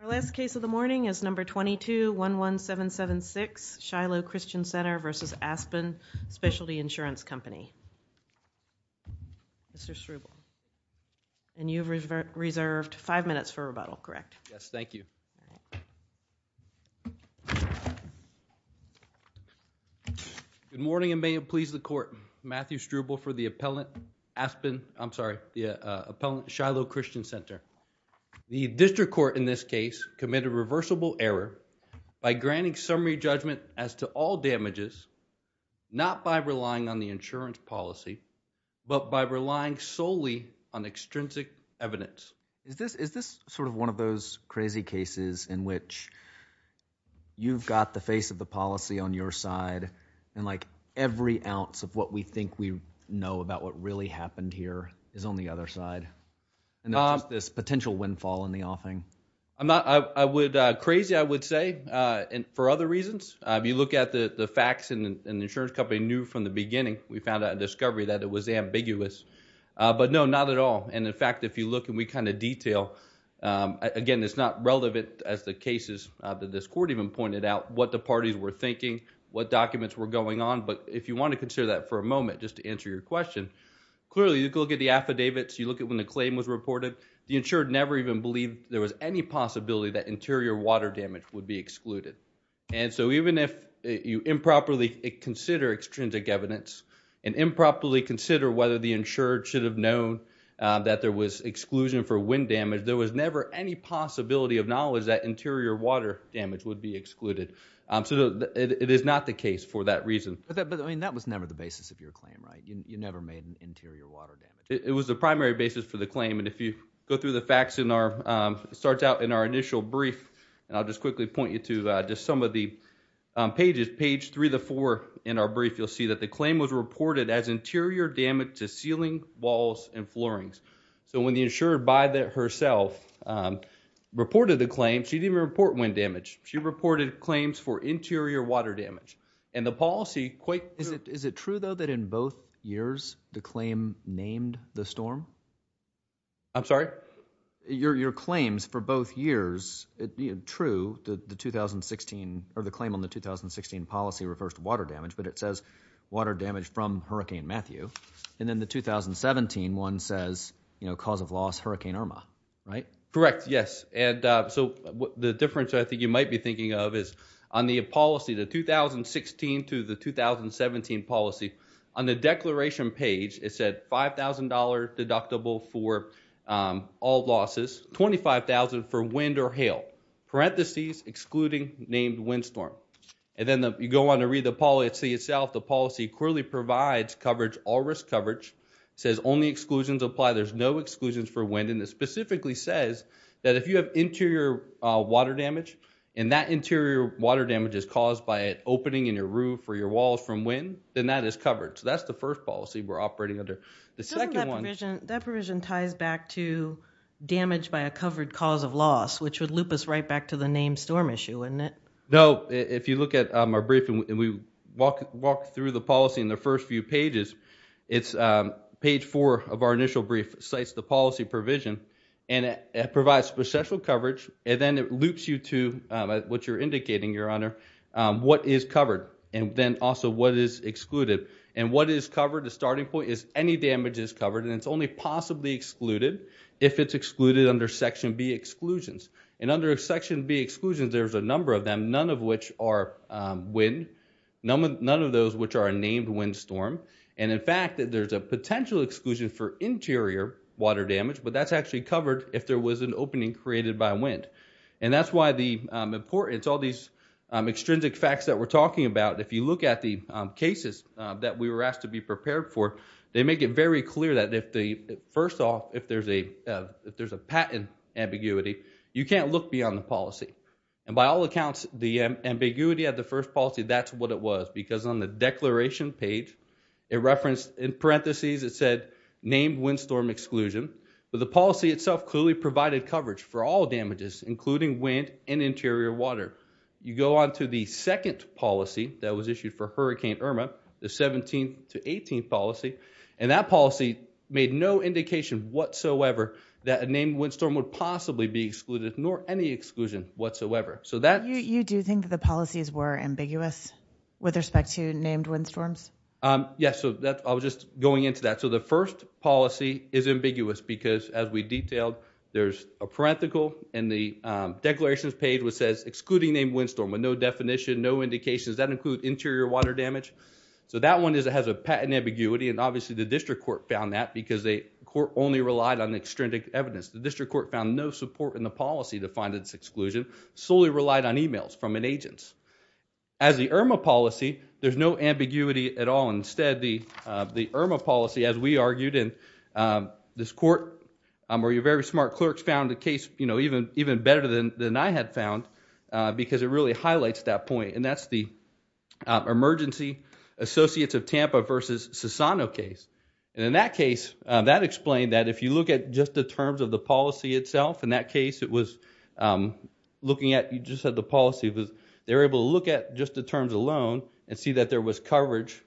Our last case of the morning is No. 22-11776 Shiloh Christian Center v. Aspen Specialty Insurance Company. Mr. Schruble. And you've reserved five minutes for rebuttal, correct? Yes, thank you. Good morning and may it please the court. Matthew Schruble for the appellant Aspen, I'm sorry, the appellant Shiloh Christian Center. The district court in this case committed reversible error by granting summary judgment as to all damages, not by relying on the insurance crazy cases in which you've got the face of the policy on your side and like every ounce of what we think we know about what really happened here is on the other side and not this potential windfall in the offing. I'm not, I would, crazy I would say and for other reasons. If you look at the the facts and the insurance company knew from the beginning we found out a discovery that it was ambiguous but no not at all and in fact if you look and we kind of detail again this not relevant as the cases that this court even pointed out what the parties were thinking, what documents were going on, but if you want to consider that for a moment just to answer your question clearly you can look at the affidavits, you look at when the claim was reported, the insured never even believed there was any possibility that interior water damage would be excluded and so even if you improperly consider extrinsic evidence and improperly consider whether the of knowledge that interior water damage would be excluded. So it is not the case for that reason. But that but I mean that was never the basis of your claim right? You never made an interior water damage. It was the primary basis for the claim and if you go through the facts in our starts out in our initial brief and I'll just quickly point you to just some of the pages page three to four in our brief you'll see that the claim was reported as interior damage to ceiling walls and floorings. So when the insurer by that herself reported the claim she didn't report wind damage. She reported claims for interior water damage and the policy quite is it is it true though that in both years the claim named the storm? I'm sorry? Your claims for both years true the 2016 or the claim on the 2016 policy refers to water damage but it says water damage from Hurricane Matthew and then the 2017 one says you know cause of loss Hurricane Irma right? Correct yes and so the difference I think you might be thinking of is on the policy the 2016 to the 2017 policy on the declaration page it said $5,000 deductible for all losses $25,000 for wind or hail parentheses excluding named windstorm and then you go on to read the policy itself the policy clearly provides coverage all risk coverage says only exclusions apply there's no exclusions for wind and it specifically says that if you have interior water damage and that interior water damage is caused by it opening in your roof or your walls from wind then that is covered so that's the first policy we're operating under the second one that provision ties back to damage by a covered cause of loss which would loop us right back to the name storm issue wouldn't it? No if you look at our brief and we walk walk through the policy in the first few pages it's page four of our initial brief cites the policy provision and it provides special coverage and then it loops you to what you're indicating your honor what is covered and then also what is excluded and what is covered the starting point is any damage is covered and it's only possibly excluded if it's excluded under section b exclusions and under section b exclusions there's a number of them none of which are wind none of those which are named wind storm and in fact that there's a potential exclusion for interior water damage but that's actually covered if there was an opening created by wind and that's why the importance all these extrinsic facts that we're talking about if you look at the cases that we were asked to be prepared for they make it very clear that if the first off if there's a patent ambiguity you can't look beyond the policy and by all accounts the ambiguity of the first policy that's what it was because on the declaration page it referenced in parentheses it said named wind storm exclusion but the policy itself clearly provided coverage for all damages including wind and interior water you go on to the second policy that was issued for hurricane irma the 17th to 18th policy and that policy made no indication whatsoever that a named wind storm would possibly be excluded nor any exclusion whatsoever so that you do think that the policies were ambiguous with respect to named wind storms yes so that i was just going into that so the first policy is ambiguous because as we detailed there's a parenthetical and the declarations page which says excluding named wind storm with no definition no indications that include interior water damage so that one is it has a patent ambiguity and court only relied on extrinsic evidence the district court found no support in the policy to find its exclusion solely relied on emails from an agent's as the irma policy there's no ambiguity at all instead the the irma policy as we argued in this court where you're very smart clerks found the case you know even even better than than i had found because it really highlights that point and that's the emergency associates of tampa versus sassano case and in that case that explained that if you look at just the terms of the policy itself in that case it was looking at you just said the policy was they're able to look at just the terms alone and see that there was coverage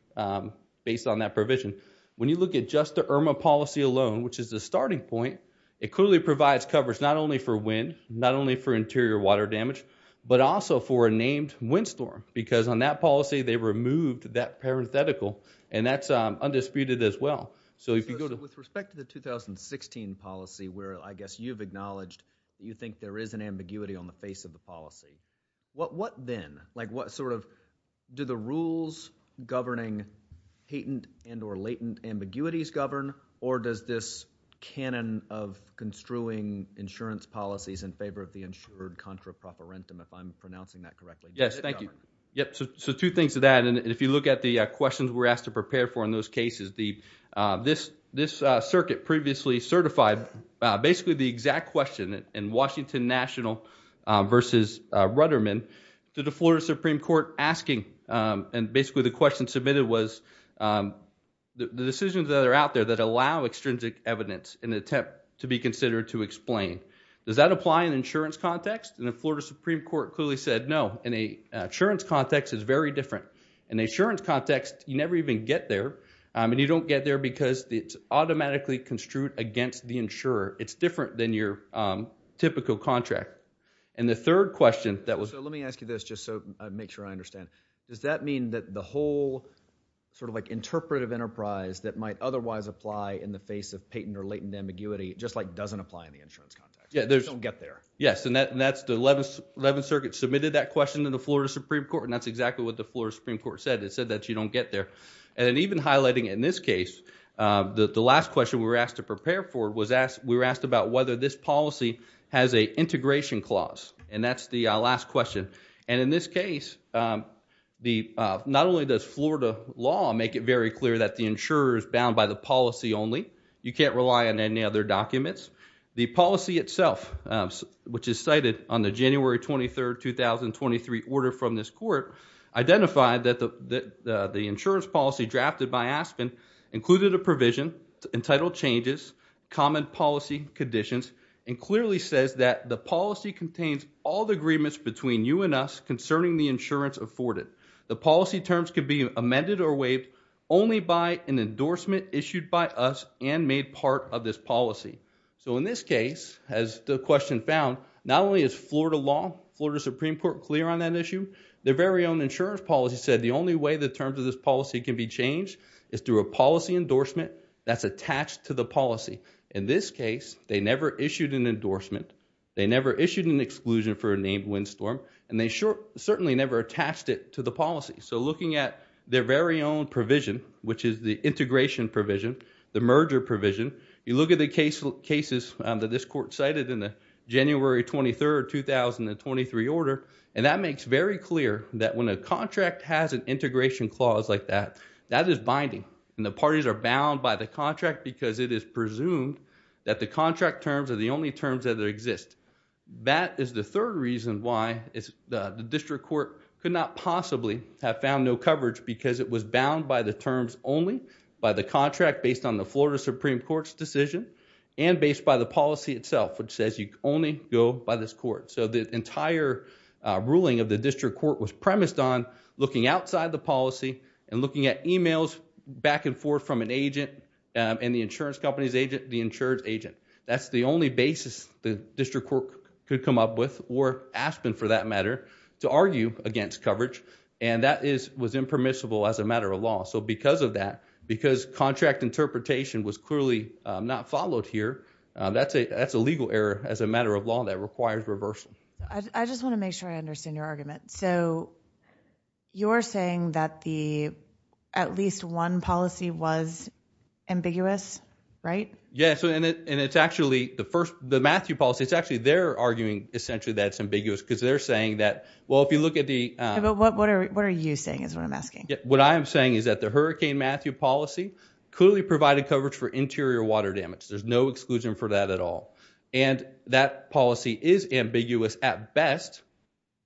based on that provision when you look at just the irma policy alone which is the starting point it clearly provides coverage not only for wind not only for interior water damage but also for a named wind storm because on that policy they removed that parenthetical and that's um undisputed as well so if you go with respect to the 2016 policy where i guess you've acknowledged you think there is an ambiguity on the face of the policy what what then like what sort of do the rules governing patent and or latent ambiguities govern or does this canon of construing insurance policies in favor of the insured contra properentum if i'm pronouncing that correctly yes thank you yep so two things to that and if you look at the questions we're asked to prepare for in those cases the uh this this uh circuit previously certified basically the exact question in washington national uh versus uh ruderman to the florida supreme court asking um and basically the question submitted was um the decisions that are out there that allow extrinsic evidence in the attempt to be considered to explain does that apply in insurance context and the florida supreme court clearly said no in a insurance context is very different in the insurance context you never even get there um and you don't get there because it's automatically construed against the insurer it's different than your um typical contract and the third question that was let me ask you this just so i make sure i understand does that mean that the whole sort of like interpretive enterprise that might otherwise apply in the face of patent or latent ambiguity just like doesn't apply in the insurance context yeah there's don't get there yes and that's the 11th 11th circuit submitted that question to the florida supreme court and that's exactly what the florida supreme court said it said that you don't get there and even highlighting in this case uh the the last question we were asked to prepare for was asked we were asked about whether this policy has a integration clause and that's the last question and in this case um the uh not only does florida law make it very clear that the insurer is bound by the policy only you can't rely on any other documents the policy itself um which is cited on the january 23rd 2023 order from this court identified that the the the insurance policy drafted by aspen included a provision entitled changes common policy conditions and clearly says that the policy contains all the agreements between you and us concerning the insurance afforded the policy terms can be amended or waived only by an endorsement issued by us and made part of this policy so in this case as the question found not only is florida law florida supreme court clear on that issue their very own insurance policy said the only way the terms of this policy can be changed is through a policy endorsement that's attached to the policy in this case they never issued an endorsement they never issued an exclusion for a named windstorm and they sure certainly never attached it to the policy so looking at their very own provision which is the integration provision the merger provision you look at the case cases that this court cited in the january 23rd 2023 order and that makes very clear that when a contract has an integration clause like that that is binding and the parties are bound by the contract because it is presumed that the contract terms are the only terms that exist that is the third reason why it's the district court could not possibly have found no coverage because it was bound by the terms only by the contract based on the florida supreme court's decision and based by the policy itself which says you only go by this court so the entire ruling of the district court was premised on looking outside the policy and looking at emails back and forth from an agent and the insurance company's agent the insurance agent that's the only basis the district court could come up with or aspen for that matter to argue against coverage and that is was impermissible as a matter of law so because of that because contract interpretation was clearly not followed here that's a that's a legal error as a matter of law that requires reversal i just want to make sure i understand your argument so you're saying that the at least one policy was ambiguous right yeah so and it and it's actually the first the matthew policy it's actually they're arguing essentially that's ambiguous because they're saying that well if you look at the what what are what are you saying is what i'm asking what i'm saying is that the hurricane matthew policy clearly provided coverage for interior water damage there's no exclusion for that at all and that policy is ambiguous at best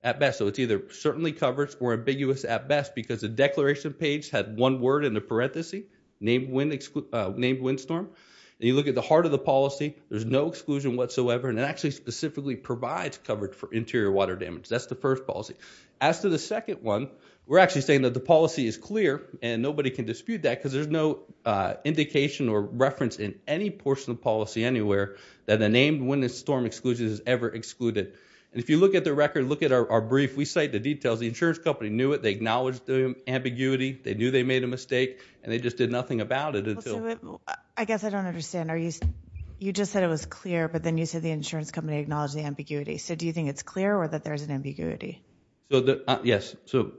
at best so it's ambiguous at best because the declaration page had one word in the parenthesis named wind exclude named windstorm and you look at the heart of the policy there's no exclusion whatsoever and it actually specifically provides coverage for interior water damage that's the first policy as to the second one we're actually saying that the policy is clear and nobody can dispute that because there's no uh indication or reference in any portion of policy anywhere that the named wind and storm exclusions is ever excluded and if you look at the record look at our brief we company knew it they acknowledged the ambiguity they knew they made a mistake and they just did nothing about it until i guess i don't understand are you you just said it was clear but then you said the insurance company acknowledged the ambiguity so do you think it's clear or that there's an ambiguity so yes so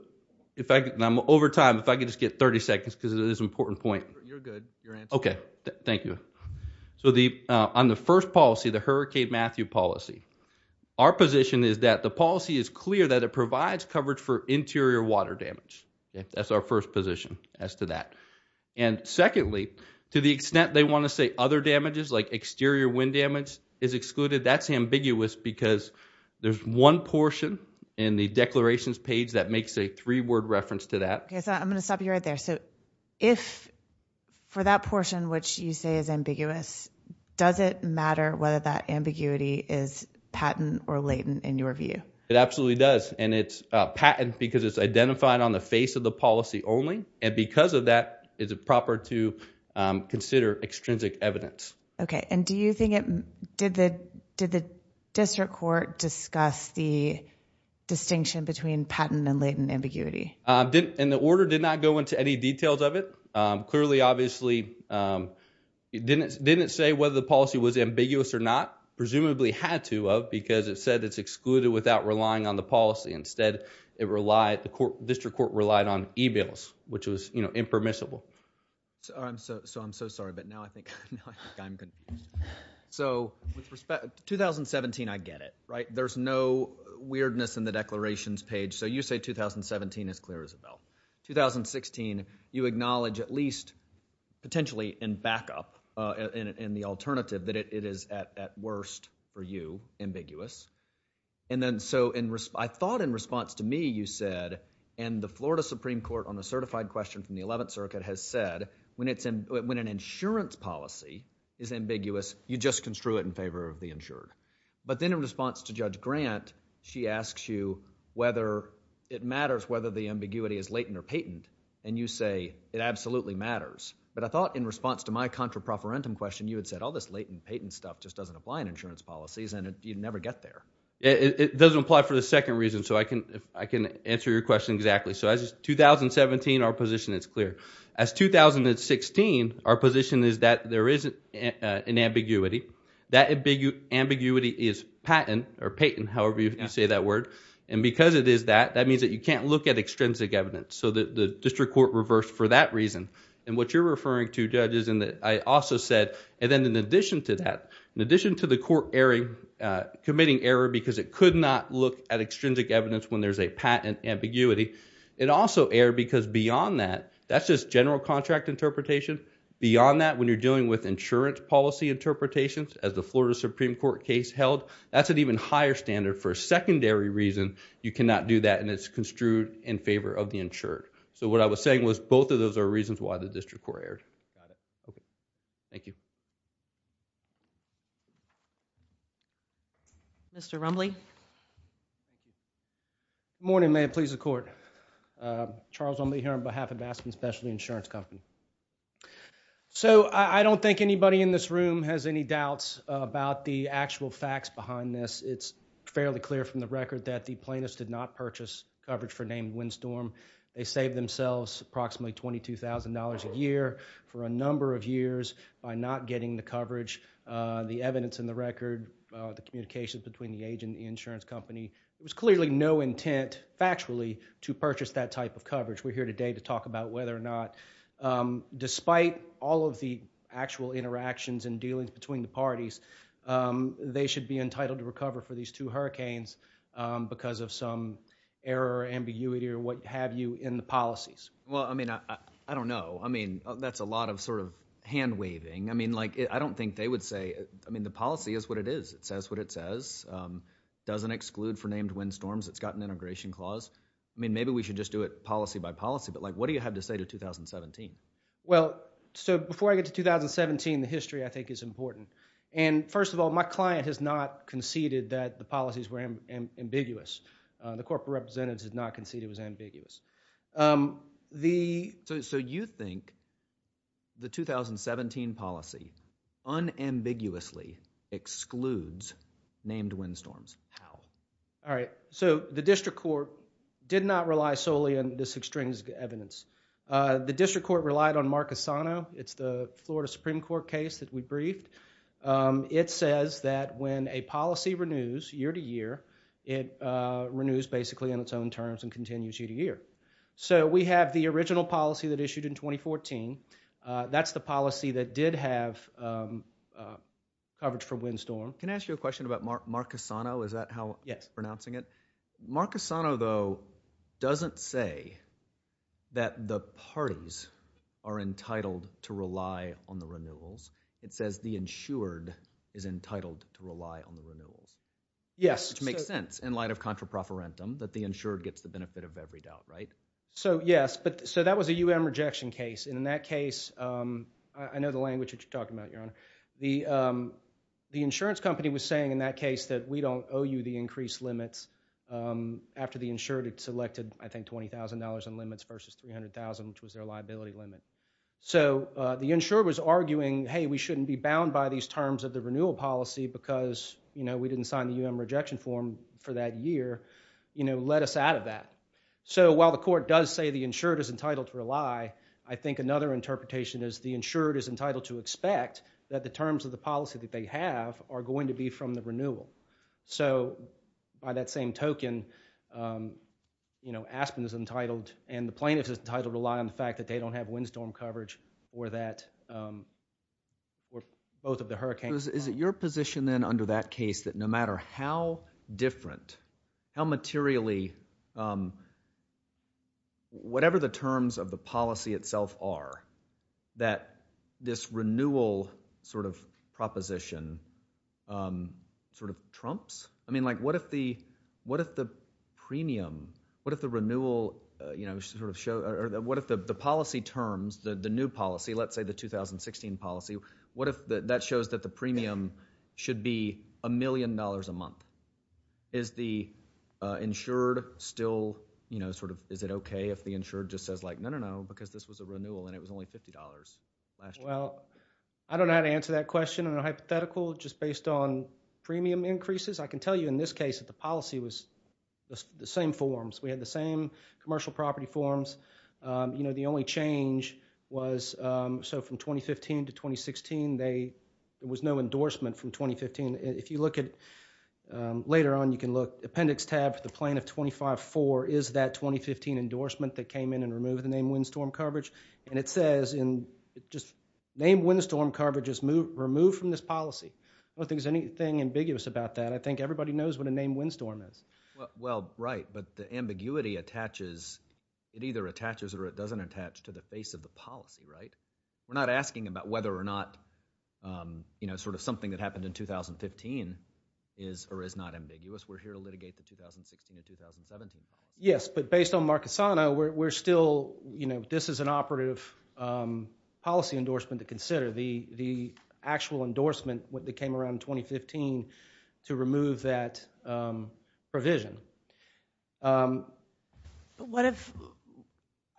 if i'm over time if i could just get 30 seconds because it is important point you're good okay thank you so the uh on the first policy the hurricane matthew policy our position is that the policy is clear that it provides coverage for interior water damage that's our first position as to that and secondly to the extent they want to say other damages like exterior wind damage is excluded that's ambiguous because there's one portion in the declarations page that makes a three-word reference to that okay so i'm going to stop you right there so if for that portion which you say is ambiguous does it matter whether that ambiguity is patent or latent in your view it absolutely does and it's a patent because it's identified on the face of the policy only and because of that is it proper to consider extrinsic evidence okay and do you think it did the did the district court discuss the distinction between patent and latent ambiguity uh didn't and the order did not go into any details of it um clearly obviously um it didn't didn't say whether the policy was ambiguous or not presumably had to of because it said it's excluded without relying on the policy instead it relied the court district court relied on e-mails which was you know impermissible so i'm so so i'm so sorry but now i think now i think i'm good so with respect to 2017 i get it right there's no weirdness in the potentially in backup uh in in the alternative that it is at at worst for you ambiguous and then so in resp i thought in response to me you said and the florida supreme court on the certified question from the 11th circuit has said when it's in when an insurance policy is ambiguous you just construe it in favor of the insured but then in response to judge grant she asks you whether it absolutely matters but i thought in response to my contra profferentum question you had said all this latent patent stuff just doesn't apply in insurance policies and you never get there it doesn't apply for the second reason so i can if i can answer your question exactly so as 2017 our position is clear as 2016 our position is that there isn't an ambiguity that ambiguity is patent or patent however you say that word and because it is that that means that you can't look at and what you're referring to judges and that i also said and then in addition to that in addition to the court airing uh committing error because it could not look at extrinsic evidence when there's a patent ambiguity it also aired because beyond that that's just general contract interpretation beyond that when you're dealing with insurance policy interpretations as the florida supreme court case held that's an even higher standard for a secondary reason you cannot do that and it's construed in favor of the insured so what i was saying was both of those are reasons why the district court aired got it okay thank you mr rumbly good morning may it please the court uh charles only here on behalf of aspen specialty insurance company so i i don't think anybody in this room has any doubts about the actual facts behind this it's fairly clear from the record that the plaintiffs did not purchase coverage for named windstorm they saved themselves approximately twenty two thousand dollars a year for a number of years by not getting the coverage uh the evidence in the record uh the communications between the age and the insurance company there was clearly no intent factually to purchase that type of coverage we're here today to talk about whether or not um despite all of the actual interactions and dealings between the parties um they should be entitled to recover for these two hurricanes um because of some error ambiguity or what have you in the policies well i mean i i don't know i mean that's a lot of sort of hand-waving i mean like i don't think they would say i mean the policy is what it is it says what it says um doesn't exclude for named windstorms it's got an integration clause i mean maybe we should just do it policy by policy but what do you have to say to 2017 well so before i get to 2017 the history i think is important and first of all my client has not conceded that the policies were ambiguous the corporate representatives did not concede it was ambiguous um the so you think the 2017 policy unambiguously excludes named windstorms how all right so the district court did not rely solely on this extrinsic evidence uh the district court relied on marcosano it's the florida supreme court case that we briefed um it says that when a policy renews year to year it uh renews basically in its own terms and continues year to year so we have the original policy that issued in 2014 uh that's the policy that did have um uh coverage for windstorm can doesn't say that the parties are entitled to rely on the renewals it says the insured is entitled to rely on the renewals yes which makes sense in light of contra proferentum that the insured gets the benefit of every doubt right so yes but so that was a um rejection case and in that case um i know the language that you're talking about your honor the um the insurance company was saying in that case that we don't owe you the increased limits um after the insured selected i think twenty thousand dollars in limits versus three hundred thousand which was their liability limit so uh the insurer was arguing hey we shouldn't be bound by these terms of the renewal policy because you know we didn't sign the um rejection form for that year you know let us out of that so while the court does say the insured is entitled to rely i think another interpretation is the insured is entitled to expect that the terms of the policy that they have are going to you know aspen is entitled and the plaintiff is entitled to rely on the fact that they don't have windstorm coverage or that um or both of the hurricanes is it your position then under that case that no matter how different how materially um whatever the terms of the policy itself are that this renewal sort of proposition um sort of trumps i mean like what if the what if the premium what if the renewal uh you know sort of show or what if the the policy terms the the new policy let's say the 2016 policy what if that shows that the premium should be a million dollars a month is the uh insured still you know sort of is it okay if the insured just says like no no because this was a renewal and it was only fifty dollars last well i don't know how to answer that question on a hypothetical just based on premium increases i can tell you in this case that the policy was the same forms we had the same commercial property forms um you know the only change was um so from 2015 to 2016 they there was no endorsement from 2015 if you look at later on you can look appendix tab for the plaintiff 25 4 is that 2015 endorsement that came in and removed the name windstorm coverage and it says in just name windstorm coverage is moved removed from this policy i don't think there's anything ambiguous about that i think everybody knows what a name windstorm is well right but the ambiguity attaches it either attaches or it doesn't attach to the face of the policy right we're not asking about whether or not um you know sort of something that happened in 2015 is or is not ambiguous we're here to litigate the 2016 and 2017 yes but based on marcusano we're still you know this is an operative um the actual endorsement when they came around 2015 to remove that um provision um what if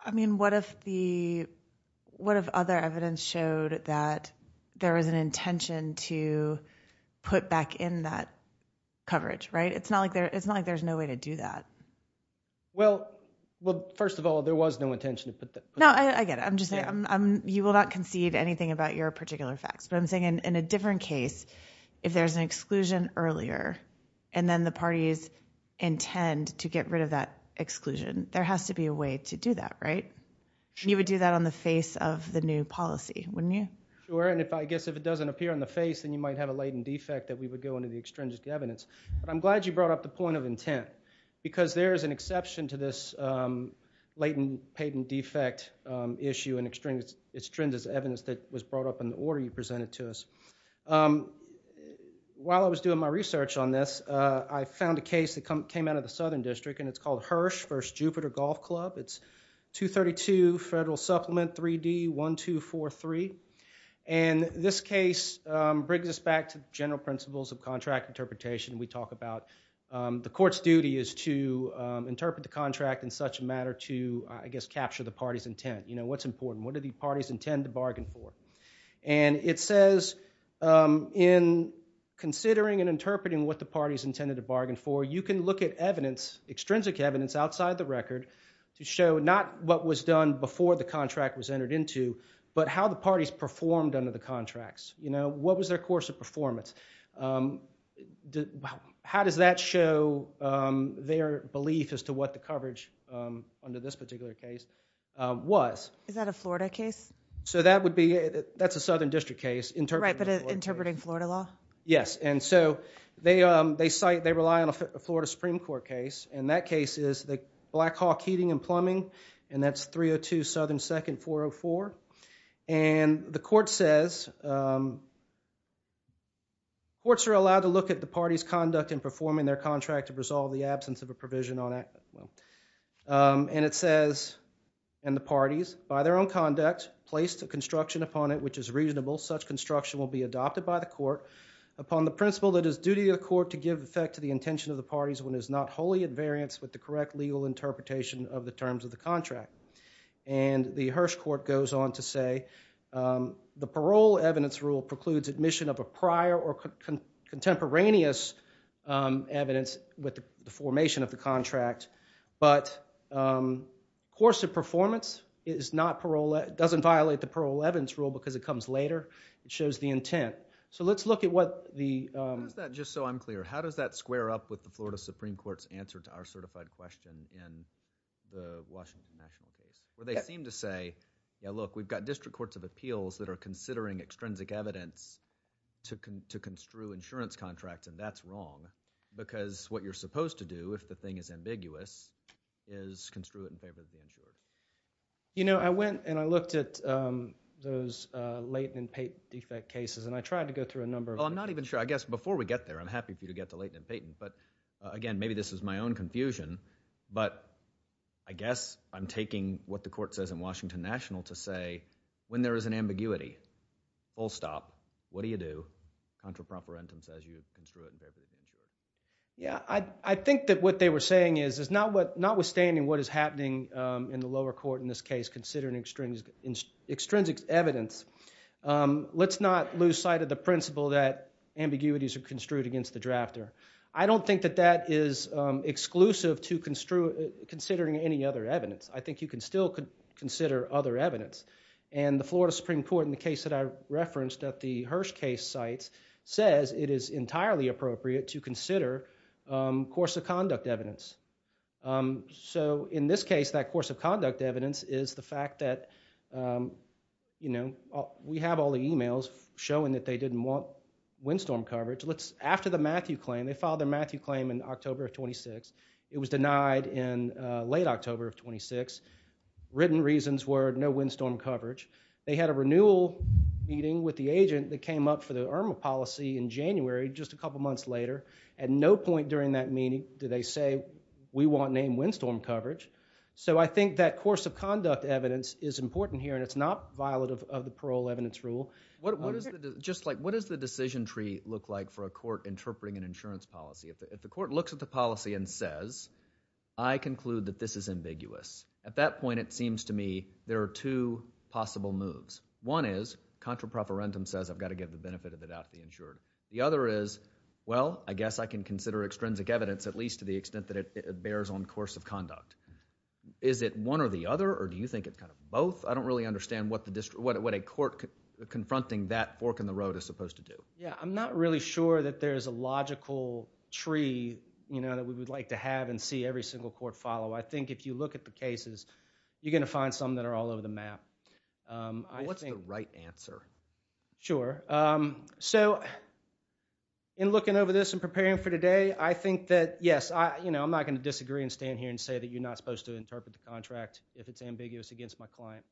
i mean what if the what if other evidence showed that there was an intention to put back in that coverage right it's not like there it's not like there's no way to do that well well first of all there was no intention to put that no i get it i'm just saying i'm you will not concede anything about your particular facts but i'm saying in a different case if there's an exclusion earlier and then the parties intend to get rid of that exclusion there has to be a way to do that right you would do that on the face of the new policy wouldn't you sure and if i guess if it doesn't appear on the face then you might have a latent defect that we would go into the extrinsic evidence but i'm glad you brought up the point of intent because there is an exception to this um latent patent defect um issue and extrinsic evidence that was brought up in the order you presented to us um while i was doing my research on this uh i found a case that came out of the southern district and it's called hirsch first jupiter golf club it's 232 federal supplement 3d 1243 and this case um brings us back to general principles of contract interpretation we talk about um the court's duty is to um interpret the contract in such a matter to i guess capture the party's intent you know what's important what do the parties intend to bargain for and it says um in considering and interpreting what the party's intended to bargain for you can look at evidence extrinsic evidence outside the record to show not what was done before the contract was entered into but how the parties performed under the contracts you know what was their course of performance um how does that show um their belief as to what the coverage um under this particular case um was is that a florida case so that would be that's a southern district case interpreting interpreting florida law yes and so they um they cite they rely on a florida supreme court case and that case is the black hawk heating and plumbing and that's 302 southern second 404 and the court says um courts are allowed to look at the party's conduct and performing their contract to resolve the absence of a provision on it well um and it says and the parties by their own conduct placed a construction upon it which is reasonable such construction will be adopted by the court upon the principle that is duty of the court to give effect to the intention of the parties when is not wholly invariance with the correct legal interpretation of the terms of contract and the hirsch court goes on to say the parole evidence rule precludes admission of a prior or contemporaneous um evidence with the formation of the contract but um course of performance is not parole it doesn't violate the parole evidence rule because it comes later it shows the intent so let's look at what the um is that just so i'm clear how does that square up with florida supreme court's answer to our certified question in the washington national case where they seem to say yeah look we've got district courts of appeals that are considering extrinsic evidence to construe insurance contracts and that's wrong because what you're supposed to do if the thing is ambiguous is construe it in favor of the insurer you know i went and i looked at um those uh layton and peyton defect cases and i tried to go through a number i'm not even sure i guess before we get there i'm happy for you to get to layton and peyton but again maybe this is my own confusion but i guess i'm taking what the court says in washington national to say when there is an ambiguity full stop what do you do contrapparentum says you construe it yeah i i think that what they were saying is is not what notwithstanding what is happening um in the lower court in this case considering extrinsic extrinsic evidence um let's not lose sight of the principle that ambiguities are construed against the drafter i don't think that that is um exclusive to construe considering any other evidence i think you can still consider other evidence and the florida supreme court in the case that i referenced at the hirsch case sites says it is entirely appropriate to consider um course of conduct evidence um so in this case that course of conduct evidence is the fact that um you know we have all the emails showing that they didn't want windstorm coverage let's after the matthew claim they filed their matthew claim in october of 26 it was denied in uh late october of 26 written reasons were no windstorm coverage they had a renewal meeting with the agent that came up for the erma policy in january just a couple months later at no point during that meeting did they say we want name windstorm coverage so i think that course of conduct evidence is important here and it's not violent of the parole evidence rule what is it just like what does the decision tree look like for a court interpreting an insurance policy if the court looks at the policy and says i conclude that this is ambiguous at that point it seems to me there are two possible moves one is contra preferentum says i've got to give the benefit of it out to the insured the other is well i guess i can consider extrinsic evidence at least to the extent that it bears on course of conduct is it one or the other or do you think it's kind of both i don't really understand what what a court confronting that fork in the road is supposed to do yeah i'm not really sure that there's a logical tree you know that we would like to have and see every single court follow i think if you look at the cases you're going to find some that are all over the map um what's the right answer sure um so in looking over this and preparing for today i think that yes i you know i'm not going to disagree and stand here and say that you're not supposed to interpret the contract if it's ambiguous against my client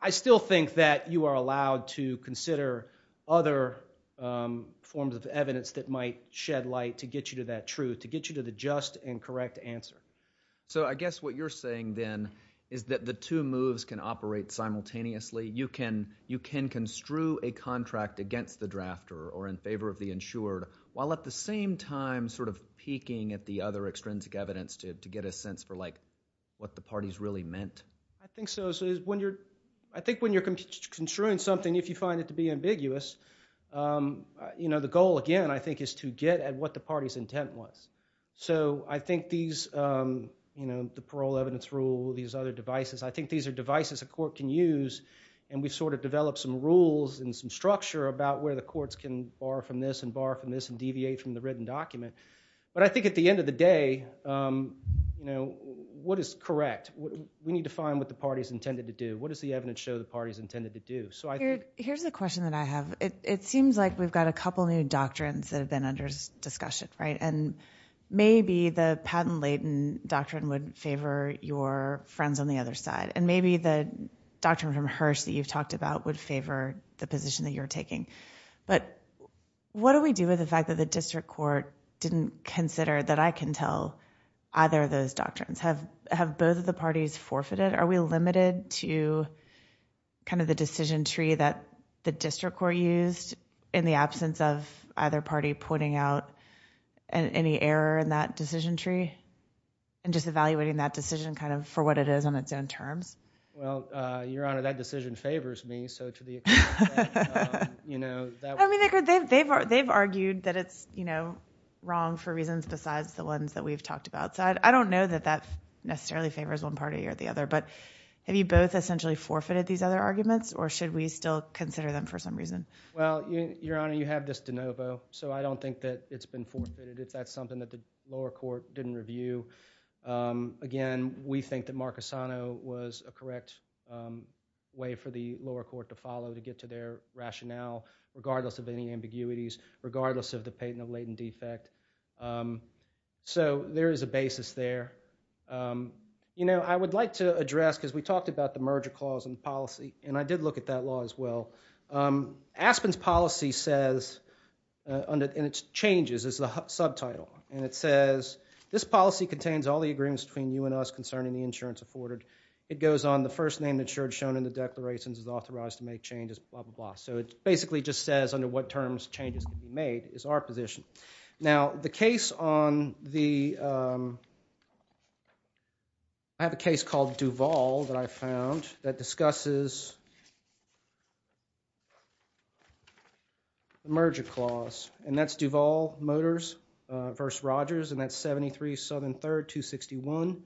i still think that you are allowed to consider other forms of evidence that might shed light to get you to that truth to get you to the just and correct answer so i guess what you're saying then is that the two moves can operate simultaneously you can you can construe a contract against the drafter or in favor of the insured while at the same time sort of peeking at the other extrinsic evidence to to get a sense for like what the parties really meant i think so so when you're i think when you're construing something if you find it to be ambiguous um you know the goal again i think is to get at what the party's intent was so i think these um you know the parole evidence rule these other devices i think these are devices a court can use and we've sort of developed some rules and some structure about where the courts can borrow from this and borrow from this and deviate from the written document but i think at end of the day um you know what is correct what we need to find what the party's intended to do what does the evidence show the party's intended to do so i here's the question that i have it it seems like we've got a couple new doctrines that have been under discussion right and maybe the patent-laden doctrine would favor your friends on the other side and maybe the doctrine from hirsch that you've talked about would favor the position that you're taking but what do we do with the fact that the district court didn't consider that i can tell either of those doctrines have have both of the parties forfeited are we limited to kind of the decision tree that the district court used in the absence of either party pointing out any error in that decision tree and just evaluating that decision kind of for what it is on its own terms well uh your honor that decision favors me so to the extent you know that i mean they've they've they've argued that it's you know wrong for reasons besides the ones that we've talked about so i don't know that that necessarily favors one party or the other but have you both essentially forfeited these other arguments or should we still consider them for some reason well your honor you have this de novo so i don't think that it's been forfeited if that's something that the lower court didn't um again we think that marcosano was a correct um way for the lower court to follow to get to their rationale regardless of any ambiguities regardless of the patent of latent defect um so there is a basis there um you know i would like to address because we talked about the merger clause in policy and i did look at that law as well um aspen's policy says under in its changes is the subtitle and it says this policy contains all the agreements between you and us concerning the insurance afforded it goes on the first name insured shown in the declarations is authorized to make changes blah blah so it basically just says under what terms changes can be made is our position now the case on the um i have a case called duval that i found that discusses the merger clause and that's duval motors uh verse rogers and that's 73 southern third 261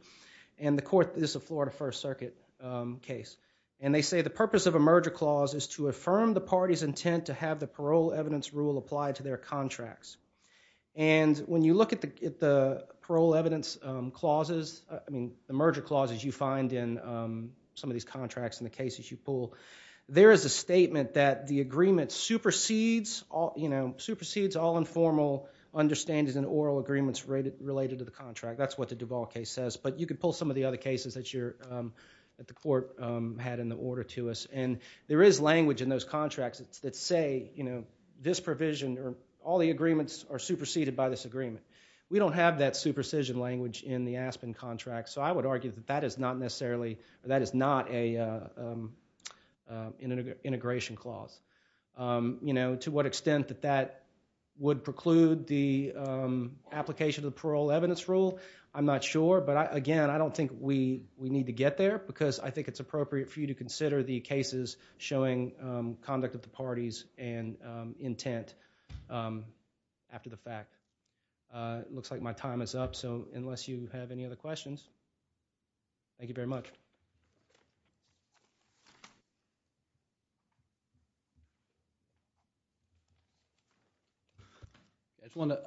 and the court is a florida first circuit um case and they say the purpose of a merger clause is to affirm the party's intent to have the parole evidence rule applied to their contracts and when you look at the parole evidence um clauses i mean the merger clauses you find in some of these contracts in the cases you pull there is a statement that the agreement supersedes all you know supersedes all informal understandings and oral agreements related related to the contract that's what the duval case says but you could pull some of the other cases that you're that the court um had in the order to us and there is language in those contracts that say you know this provision or all the agreements are superseded by this agreement we don't have that supersession language in the aspen contract so i would argue that that is not necessarily that is not a um integration clause um you know to what extent that that would preclude the um application of the parole evidence rule i'm not sure but again i don't think we we need to get there because i think it's appropriate for you to consider the cases showing um conduct of the up so unless you have any other questions thank you very much i just want to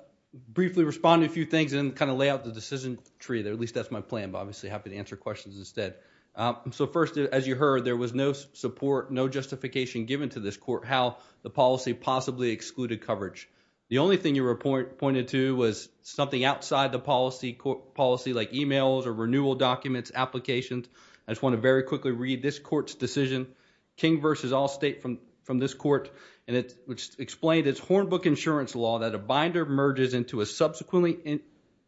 briefly respond to a few things and kind of lay out the decision tree there at least that's my plan but obviously happy to answer questions instead um so first as you heard there was no support no justification given to this court how the policy possibly excluded coverage the only thing you were pointed to was something outside the policy policy like emails or renewal documents applications i just want to very quickly read this court's decision king versus all state from from this court and it explained its hornbook insurance law that a binder merges into a subsequently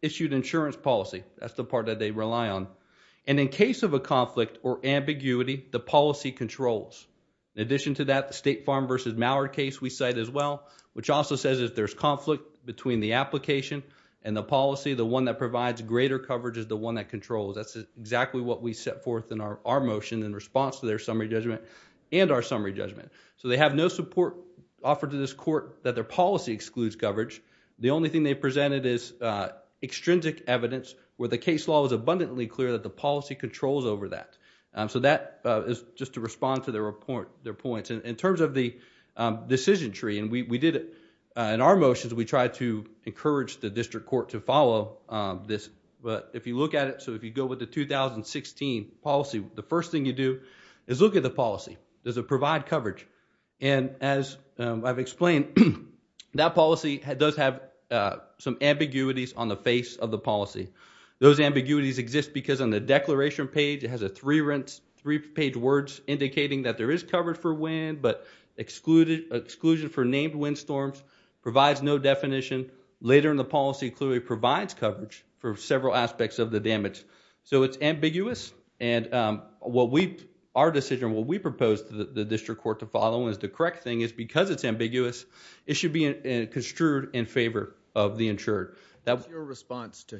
issued insurance policy that's the part that they rely on and in case of a conflict or ambiguity the policy controls in addition to that the state farm versus mauer case we cite as well which also says if there's conflict between the application and the policy the one that provides greater coverage is the one that controls that's exactly what we set forth in our motion in response to their summary judgment and our summary judgment so they have no support offered to this court that their policy excludes coverage the only thing they presented is uh extrinsic evidence where the case law is abundantly clear that the policy controls over that so that is just to respond to their point their points in terms of the decision tree and we did it in our motions we tried to encourage the district court to follow this but if you look at it so if you go with the 2016 policy the first thing you do is look at the policy does it provide coverage and as i've explained that policy does have some ambiguities on the face of the policy those ambiguities exist because on the declaration page it has a three rinse three page words indicating that there is coverage for wind but excluded exclusion for named wind storms provides no definition later in the policy clearly provides coverage for several aspects of the damage so it's ambiguous and um what we our decision what we propose to the district court to follow is the correct thing is because it's ambiguous it should be construed in favor of the insured that was your response to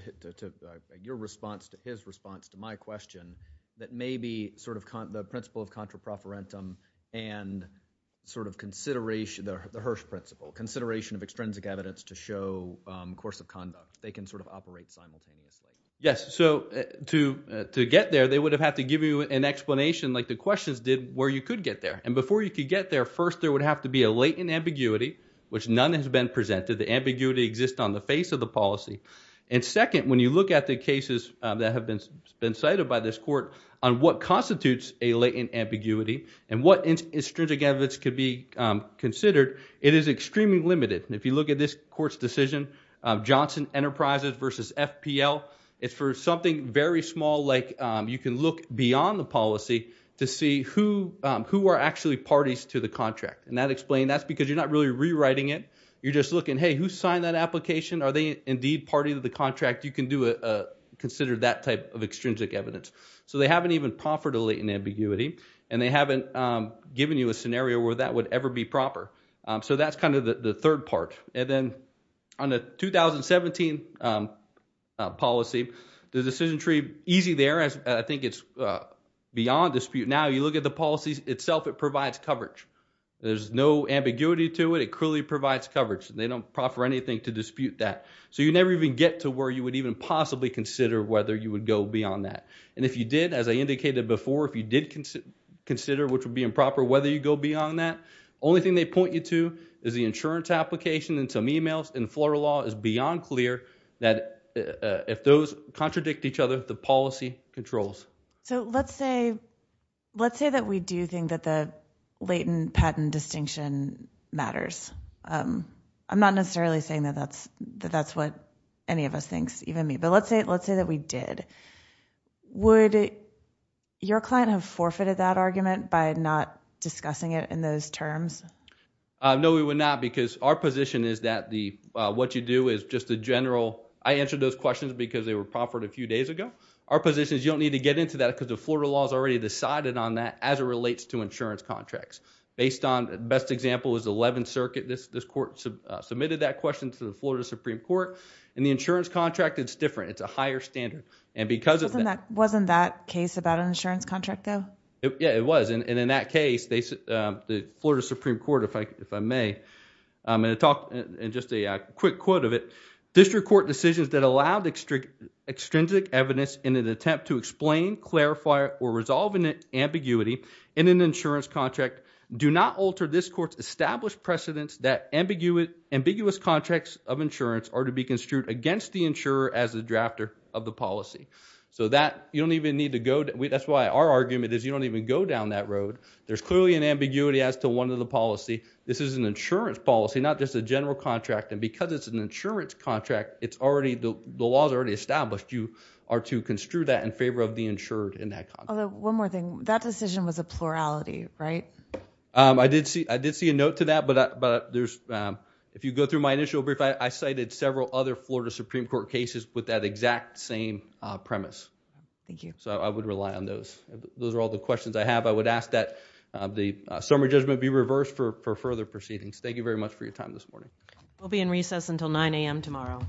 your response to his response to my question that may be sort of the principle of contraproferentum and sort of consideration the hirsch principle consideration of extrinsic evidence to show um course of conduct they can sort of operate simultaneously yes so to to get there they would have had to give you an explanation like the questions did where you could get there and before you could get there first there would have to be a latent ambiguity which none has been presented the ambiguity exists on the face of the policy and second when you look at the cases that have been been cited by this court on what constitutes a latent ambiguity and what intrinsic evidence could be considered it is extremely limited if you look at this court's decision johnson enterprises versus fpl it's for something very small like you can look beyond the policy to see who who are actually parties to the contract and that explained that's because you're not really rewriting it you're just looking hey who signed that application are they indeed party to the contract you can do a consider that type of extrinsic evidence so they haven't even proffered a latent ambiguity and they haven't um given you a scenario where that would ever be proper um so that's kind of the third part and then on the 2017 um policy the decision tree easy there as i think it's beyond dispute now you look at the policies itself it provides coverage there's no ambiguity to it it clearly provides coverage they don't proffer anything to dispute that so you never even get to where you would even possibly consider whether you would go beyond that and if you did as i indicated before if you did consider which would be improper whether you go beyond that only thing they point you to is the insurance application and some emails and floral law is let's say let's say that we do think that the latent patent distinction matters um i'm not necessarily saying that that's that that's what any of us thinks even me but let's say let's say that we did would your client have forfeited that argument by not discussing it in those terms no we would not because our position is that the what you do is just a general i answered those questions because they were proffered a few days ago our position is you don't need to get into that because the florida law is already decided on that as it relates to insurance contracts based on the best example is the 11th circuit this this court submitted that question to the florida supreme court and the insurance contract it's different it's a higher standard and because of that wasn't that case about an insurance contract though yeah it was and in that case the florida supreme court if i if i may i'm going to talk and just a quick quote of it district court decisions that allowed extrinsic evidence in an attempt to explain clarify or resolve an ambiguity in an insurance contract do not alter this court's established precedents that ambiguous ambiguous contracts of insurance are to be construed against the insurer as the drafter of the policy so that you don't even need to go that's why our argument is you don't even go down that road there's clearly an ambiguity as to one of the policy this is an insurance policy not just a general contract and because it's an insurance contract it's already the the laws already established you are to construe that in favor of the insured in that one more thing that decision was a plurality right um i did see i did see a note to that but but there's um if you go through my initial brief i cited several other florida supreme court cases with that exact same uh premise thank you so i would rely on those those are all the questions i have i would ask that the summary judgment be reversed for for further proceedings thank you very much for your time this morning we'll be in recess until 9 a.m tomorrow